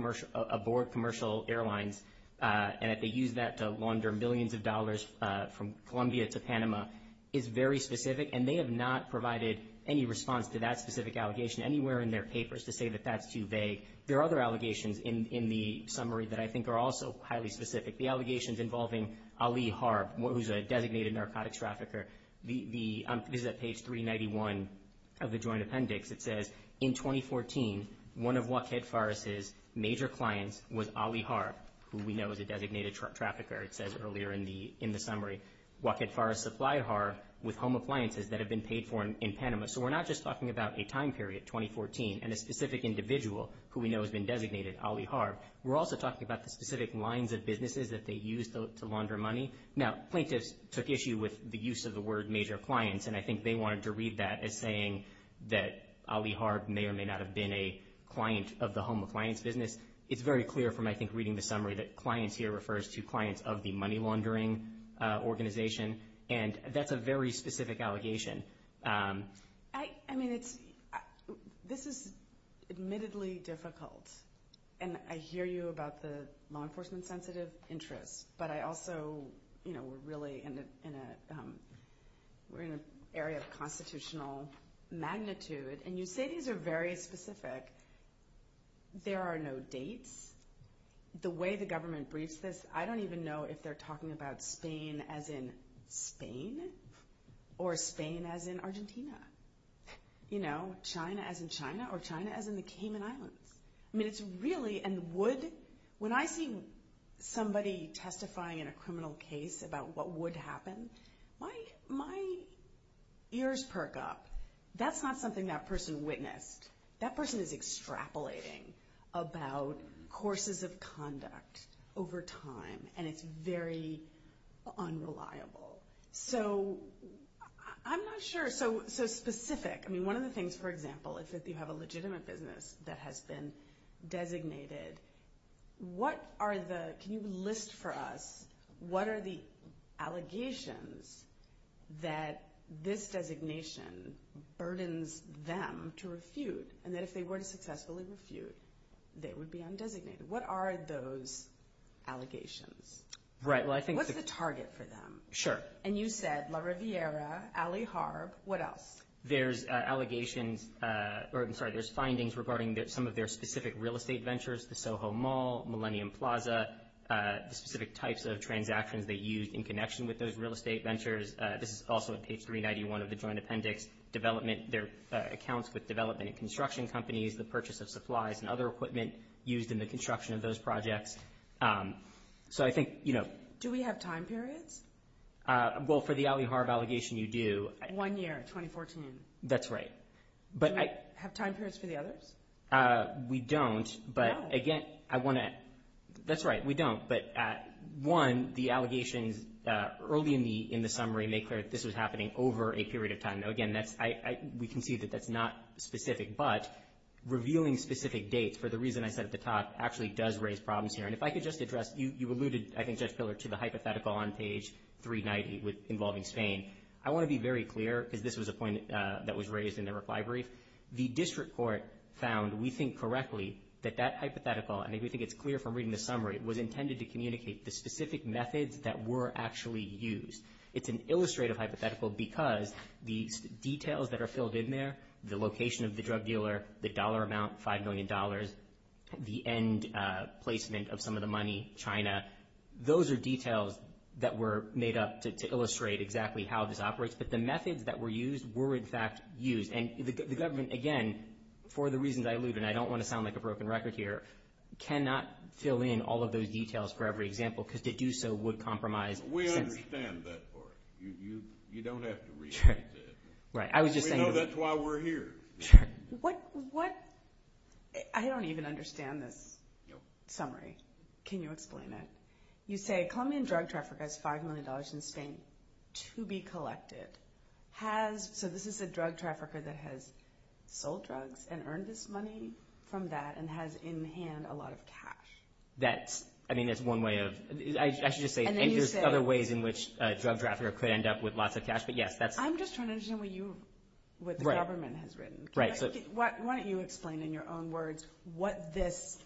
commercial airlines and that they used that to launder millions of dollars from Colombia to Panama is very specific, and they have not provided any response to that specific allegation anywhere in their papers to say that that's too vague. There are other allegations in the summary that I think are also highly specific. The allegations involving Ali Harb, who's a designated narcotics trafficker. This is at page 391 of the Joint Appendix. It says, In 2014, one of Joaquin Farris's major clients was Ali Harb, who we know is a designated trafficker, it says earlier in the summary. Joaquin Farris supplied Harb with home appliances that had been paid for in Panama. So we're not just talking about a time period, 2014, and a specific individual who we know has been designated, Ali Harb. We're also talking about the specific lines of businesses that they used to launder money. Now, plaintiffs took issue with the use of the word major clients, and I think they wanted to read that as saying that Ali Harb may or may not have been a client of the home appliance business. It's very clear from, I think, reading the summary that clients here refers to clients of the money laundering organization, and that's a very specific allegation. I mean, this is admittedly difficult, and I hear you about the law enforcement-sensitive interests, but I also, you know, we're really in an area of constitutional magnitude, and you say these are very specific. There are no dates. The way the government briefs this, I don't even know if they're talking about Spain as in Spain or Spain as in Argentina, you know, China as in China or China as in the Cayman Islands. I mean, it's really, and would, when I see somebody testifying in a criminal case about what would happen, my ears perk up. That's not something that person witnessed. That person is extrapolating about courses of conduct over time, and it's very unreliable. So I'm not sure, so specific, I mean, one of the things, for example, if you have a legitimate business that has been designated, what are the, can you list for us, what are the allegations that this designation burdens them to refute, and that if they were to successfully refute, they would be undesignated? What are those allegations? Right, well, I think. What's the target for them? Sure. And you said La Riviera, Ali Harb, what else? There's allegations, or I'm sorry, there's findings regarding some of their specific real estate ventures, the Soho Mall, Millennium Plaza, the specific types of transactions they used in connection with those real estate ventures. This is also on page 391 of the joint appendix. Development, their accounts with development and construction companies, the purchase of supplies and other equipment used in the construction of those projects. So I think, you know. Do we have time periods? Well, for the Ali Harb allegation, you do. One year, 2014. That's right. Do we have time periods for the others? We don't, but again, I want to, that's right, we don't. But one, the allegations early in the summary make clear that this was happening over a period of time. Now, again, we can see that that's not specific, but revealing specific dates, for the reason I said at the top, actually does raise problems here. And if I could just address, you alluded, I think, Judge Piller, to the hypothetical on page 390 involving Spain. I want to be very clear, because this was a point that was raised in the reply brief. The district court found, we think correctly, that that hypothetical, and I think we think it's clear from reading the summary, was intended to communicate the specific methods that were actually used. It's an illustrative hypothetical because the details that are filled in there, the location of the drug dealer, the dollar amount, $5 million, the end placement of some of the money, China, those are details that were made up to illustrate exactly how this operates. But the methods that were used were, in fact, used. And the government, again, for the reasons I alluded, and I don't want to sound like a broken record here, cannot fill in all of those details for every example because to do so would compromise. We understand that part. You don't have to read it. Right. We know that's why we're here. What – I don't even understand this summary. Can you explain it? You say a Colombian drug trafficker has $5 million in Spain to be collected. So this is a drug trafficker that has sold drugs and earned this money from that and has in hand a lot of cash. That's – I mean, that's one way of – I should just say there's other ways in which a drug trafficker could end up with lots of cash. But, yes, that's – I'm just trying to understand what you – what the government has written. Why don't you explain in your own words what this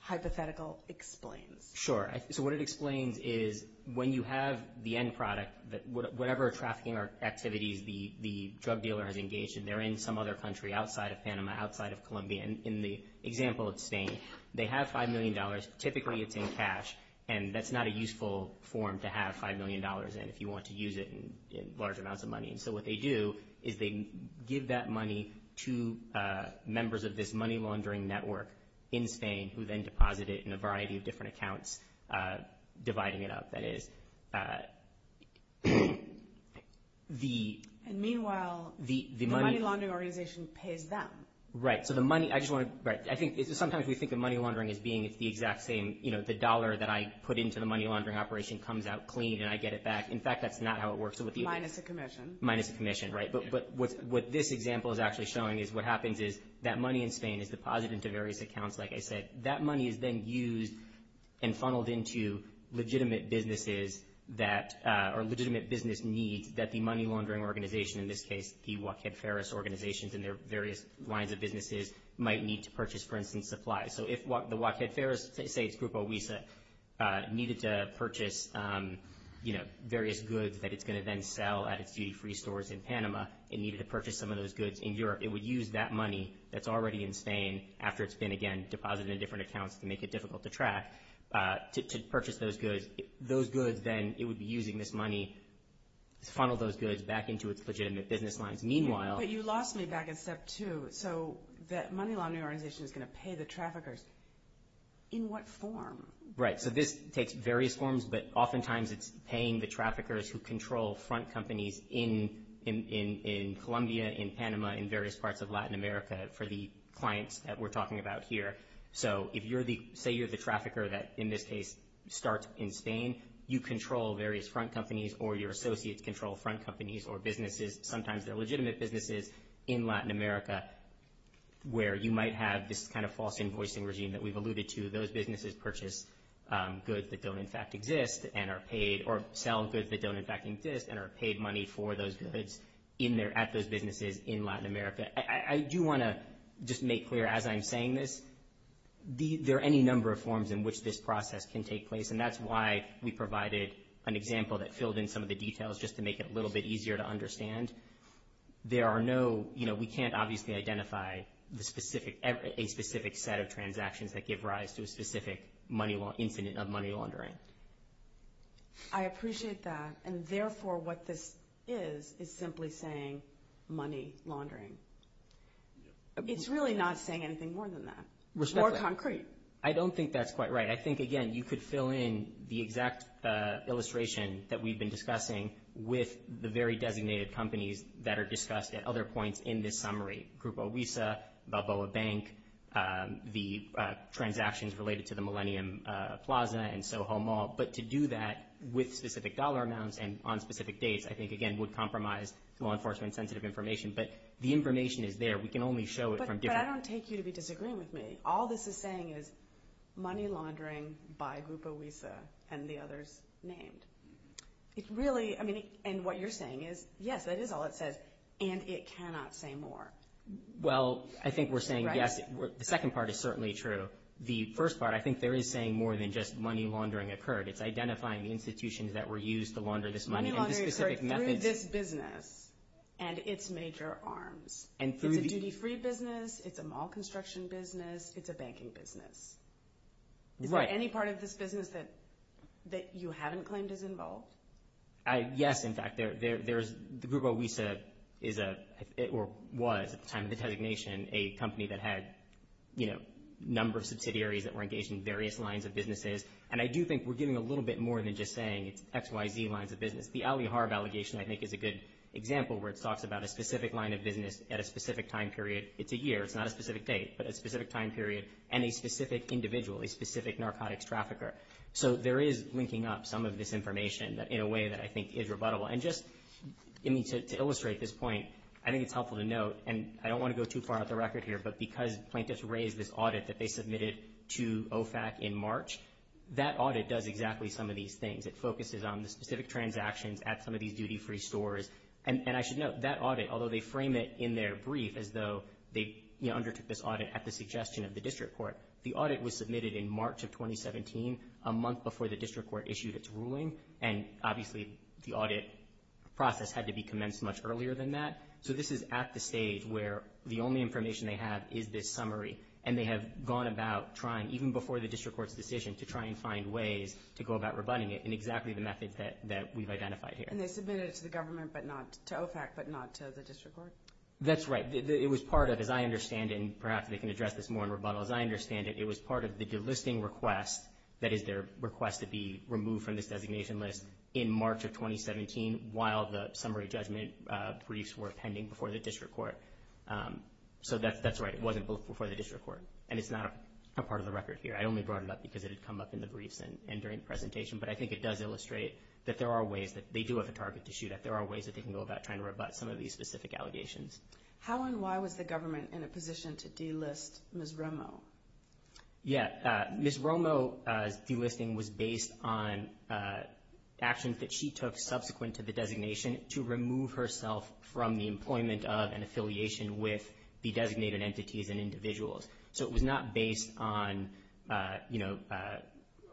hypothetical explains? Sure. So what it explains is when you have the end product, whatever trafficking activities the drug dealer has engaged in, they're in some other country outside of Panama, outside of Colombia. In the example of Spain, they have $5 million. Typically it's in cash, and that's not a useful form to have $5 million in if you want to use it in large amounts of money. And so what they do is they give that money to members of this money laundering network in Spain who then deposit it in a variety of different accounts, dividing it up. That is, the – And meanwhile, the money laundering organization pays them. Right. So the money – I just want to – right. I think sometimes we think of money laundering as being it's the exact same – you know, the dollar that I put into the money laundering operation comes out clean and I get it back. In fact, that's not how it works. Minus a commission. Minus a commission, right. But what this example is actually showing is what happens is that money in Spain is deposited into various accounts. Like I said, that money is then used and funneled into legitimate businesses that – or legitimate business needs that the money laundering organization, in this case the Joaquin Ferris organizations and their various lines of businesses, might need to purchase, for instance, supplies. So if the Joaquin Ferris, say it's Grupo Wisa, needed to purchase, you know, various goods that it's going to then sell at its duty-free stores in Panama and needed to purchase some of those goods in Europe, it would use that money that's already in Spain after it's been, again, deposited in different accounts to make it difficult to track to purchase those goods. Those goods then, it would be using this money to funnel those goods back into its legitimate business lines. Meanwhile – But you lost me back in step two. So that money laundering organization is going to pay the traffickers. In what form? Right. So this takes various forms, but oftentimes it's paying the traffickers who control front companies in Colombia, in Panama, in various parts of Latin America for the clients that we're talking about here. So if you're the – say you're the trafficker that, in this case, starts in Spain, you control various front companies or your associates control front companies or businesses, sometimes they're legitimate businesses, in Latin America, where you might have this kind of false invoicing regime that we've alluded to. Those businesses purchase goods that don't, in fact, exist and are paid or sell goods that don't, in fact, exist and are paid money for those goods in their – at those businesses in Latin America. I do want to just make clear as I'm saying this, there are any number of forms in which this process can take place, and that's why we provided an example that filled in some of the details just to make it a little bit easier to understand. There are no – we can't obviously identify a specific set of transactions that give rise to a specific incident of money laundering. I appreciate that, and therefore what this is is simply saying money laundering. It's really not saying anything more than that. Respectfully. More concrete. I don't think that's quite right. I think, again, you could fill in the exact illustration that we've been discussing with the very designated companies that are discussed at other points in this summary. Grupo Visa, Balboa Bank, the transactions related to the Millennium Plaza and Soho Mall. But to do that with specific dollar amounts and on specific dates, I think, again, would compromise law enforcement-sensitive information. But the information is there. We can only show it from different – But I don't take you to be disagreeing with me. All this is saying is money laundering by Grupo Visa and the others named. It really – I mean, and what you're saying is yes, that is all it says, and it cannot say more. Well, I think we're saying yes. The second part is certainly true. The first part, I think there is saying more than just money laundering occurred. It's identifying the institutions that were used to launder this money and the specific methods. Money laundering occurred through this business and its major arms. It's a duty-free business. It's a mall construction business. It's a banking business. Is there any part of this business that you haven't claimed is involved? Yes, in fact. Grupo Visa is a – or was at the time of the designation a company that had, you know, a number of subsidiaries that were engaged in various lines of businesses. And I do think we're giving a little bit more than just saying it's X, Y, Z lines of business. The Ali Harb allegation, I think, is a good example where it talks about a specific line of business at a specific time period. It's a year. It's not a specific date, but a specific time period. And a specific individual, a specific narcotics trafficker. So there is linking up some of this information in a way that I think is rebuttable. And just to illustrate this point, I think it's helpful to note, and I don't want to go too far out the record here, but because plaintiffs raised this audit that they submitted to OFAC in March, that audit does exactly some of these things. It focuses on the specific transactions at some of these duty-free stores. And I should note, that audit, although they frame it in their brief as though they undertook this audit at the suggestion of the district court, the audit was submitted in March of 2017, a month before the district court issued its ruling, and obviously the audit process had to be commenced much earlier than that. So this is at the stage where the only information they have is this summary, and they have gone about trying, even before the district court's decision, to try and find ways to go about rebutting it in exactly the method that we've identified here. And they submitted it to the government, but not to OFAC, but not to the district court? That's right. It was part of, as I understand it, and perhaps they can address this more in rebuttal, as I understand it, it was part of the delisting request, that is their request to be removed from this designation list in March of 2017, while the summary judgment briefs were pending before the district court. So that's right, it wasn't before the district court, and it's not a part of the record here. I only brought it up because it had come up in the briefs and during the presentation, but I think it does illustrate that there are ways that they do have a target to shoot at. There are ways that they can go about trying to rebut some of these specific allegations. How and why was the government in a position to delist Ms. Romo? Yeah, Ms. Romo's delisting was based on actions that she took subsequent to the designation to remove herself from the employment of and affiliation with the designated entities and individuals. So it was not based on, you know,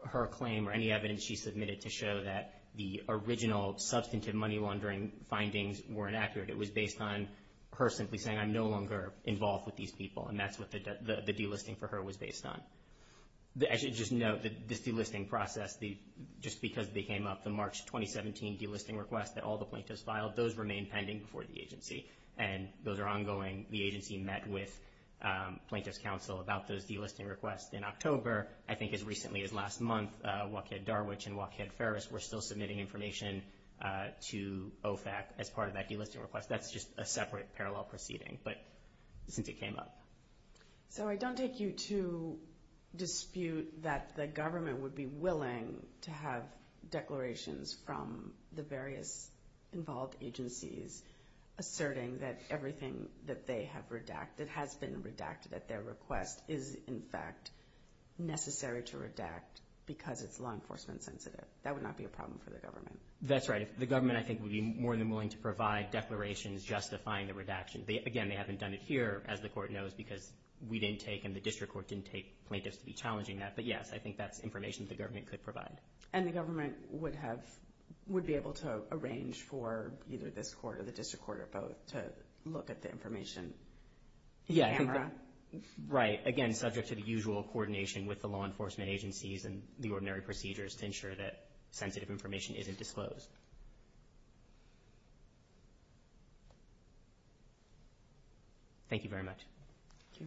her claim or any evidence she submitted to show that the original substantive money laundering findings were inaccurate. It was based on her simply saying, I'm no longer involved with these people, and that's what the delisting for her was based on. I should just note that this delisting process, just because they came up, the March 2017 delisting request that all the plaintiffs filed, those remain pending before the agency, and those are ongoing. The agency met with plaintiffs' counsel about those delisting requests in October. I think as recently as last month, Waukead-Darwich and Waukead-Ferris were still submitting information to OFAC as part of that delisting request. That's just a separate parallel proceeding, but since it came up. So I don't take you to dispute that the government would be willing to have declarations from the various involved agencies asserting that everything that they have redacted, has been redacted at their request, is in fact necessary to redact because it's law enforcement sensitive. That would not be a problem for the government. That's right. The government, I think, would be more than willing to provide declarations justifying the redaction. Again, they haven't done it here, as the court knows, because we didn't take and the district court didn't take plaintiffs to be challenging that. But yes, I think that's information the government could provide. And the government would be able to arrange for either this court or the district court or both to look at the information. Right. Again, subject to the usual coordination with the law enforcement agencies and the ordinary procedures to ensure that sensitive information isn't disclosed. Thank you very much. Thank you.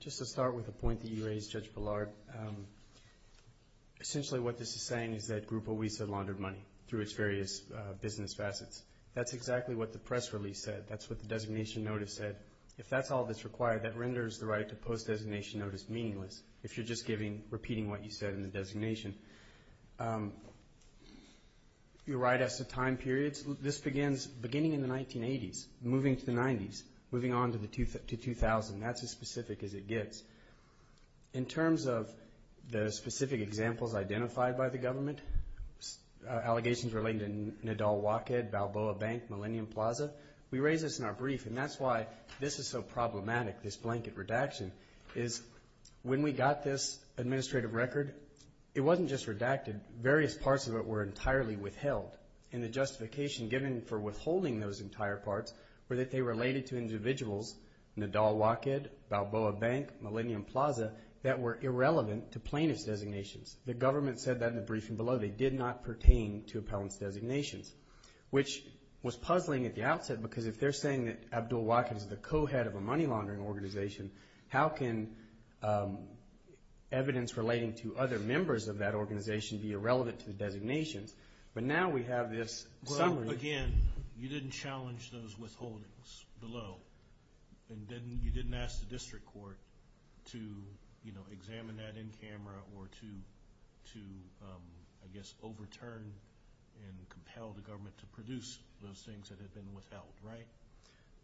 Just to start with a point that you raised, Judge Ballard, essentially what this is saying is that Grupo Huiza laundered money through its various business facets. That's exactly what the press release said. That's what the designation notice said. If that's all that's required, that renders the right to post-designation notice meaningless if you're just repeating what you said in the designation. You're right as to time periods. This begins beginning in the 1980s, moving to the 90s, moving on to 2000. That's as specific as it gets. In terms of the specific examples identified by the government, allegations relating to Nadal Wocked, Balboa Bank, Millennium Plaza, we raised this in our brief, and that's why this is so problematic, this blanket redaction, is when we got this administrative record, it wasn't just redacted. Various parts of it were entirely withheld, and the justification given for withholding those entire parts were that they related to individuals, Nadal Wocked, Balboa Bank, Millennium Plaza, that were irrelevant to plaintiff's designations. The government said that in the briefing below. They did not pertain to appellant's designations, which was puzzling at the outset because if they're saying that Abdul Wocked is the co-head of a money laundering organization, how can evidence relating to other members of that organization be irrelevant to the designations? But now we have this summary. Well, again, you didn't challenge those withholdings below, and you didn't ask the district court to examine that in camera or to, I guess, overturn and compel the government to produce those things that had been withheld, right?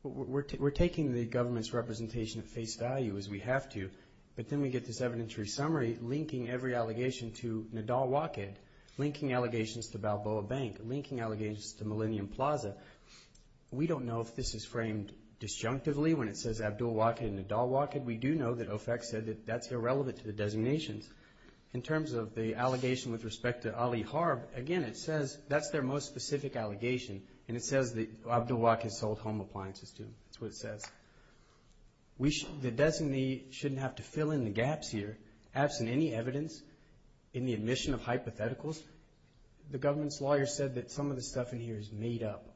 We're taking the government's representation at face value as we have to, but then we get this evidentiary summary linking every allegation to Nadal Wocked, linking allegations to Balboa Bank, linking allegations to Millennium Plaza. We don't know if this is framed disjunctively when it says Abdul Wocked and Nadal Wocked. We do know that OFAC said that that's irrelevant to the designations. In terms of the allegation with respect to Ali Harb, again, it says that's their most specific allegation, and it says that Abdul Wock had sold home appliances to him. That's what it says. The designee shouldn't have to fill in the gaps here. Absent any evidence in the admission of hypotheticals, the government's lawyer said that some of the stuff in here is made up.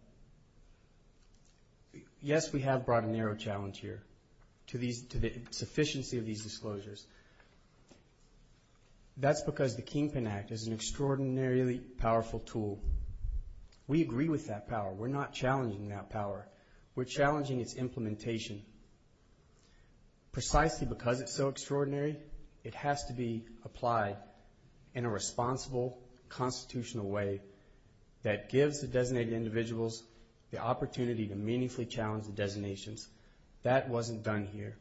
Yes, we have brought a narrow challenge here to the sufficiency of these disclosures. That's because the Kingpin Act is an extraordinarily powerful tool. We agree with that power. We're not challenging that power. We're challenging its implementation. Precisely because it's so extraordinary, it has to be applied in a responsible, constitutional way that gives the designated individuals the opportunity to meaningfully challenge the designations. That wasn't done here.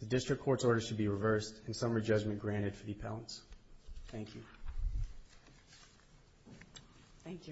The district court's orders should be reversed, and summary judgment granted for the appellants. Thank you. Thank you.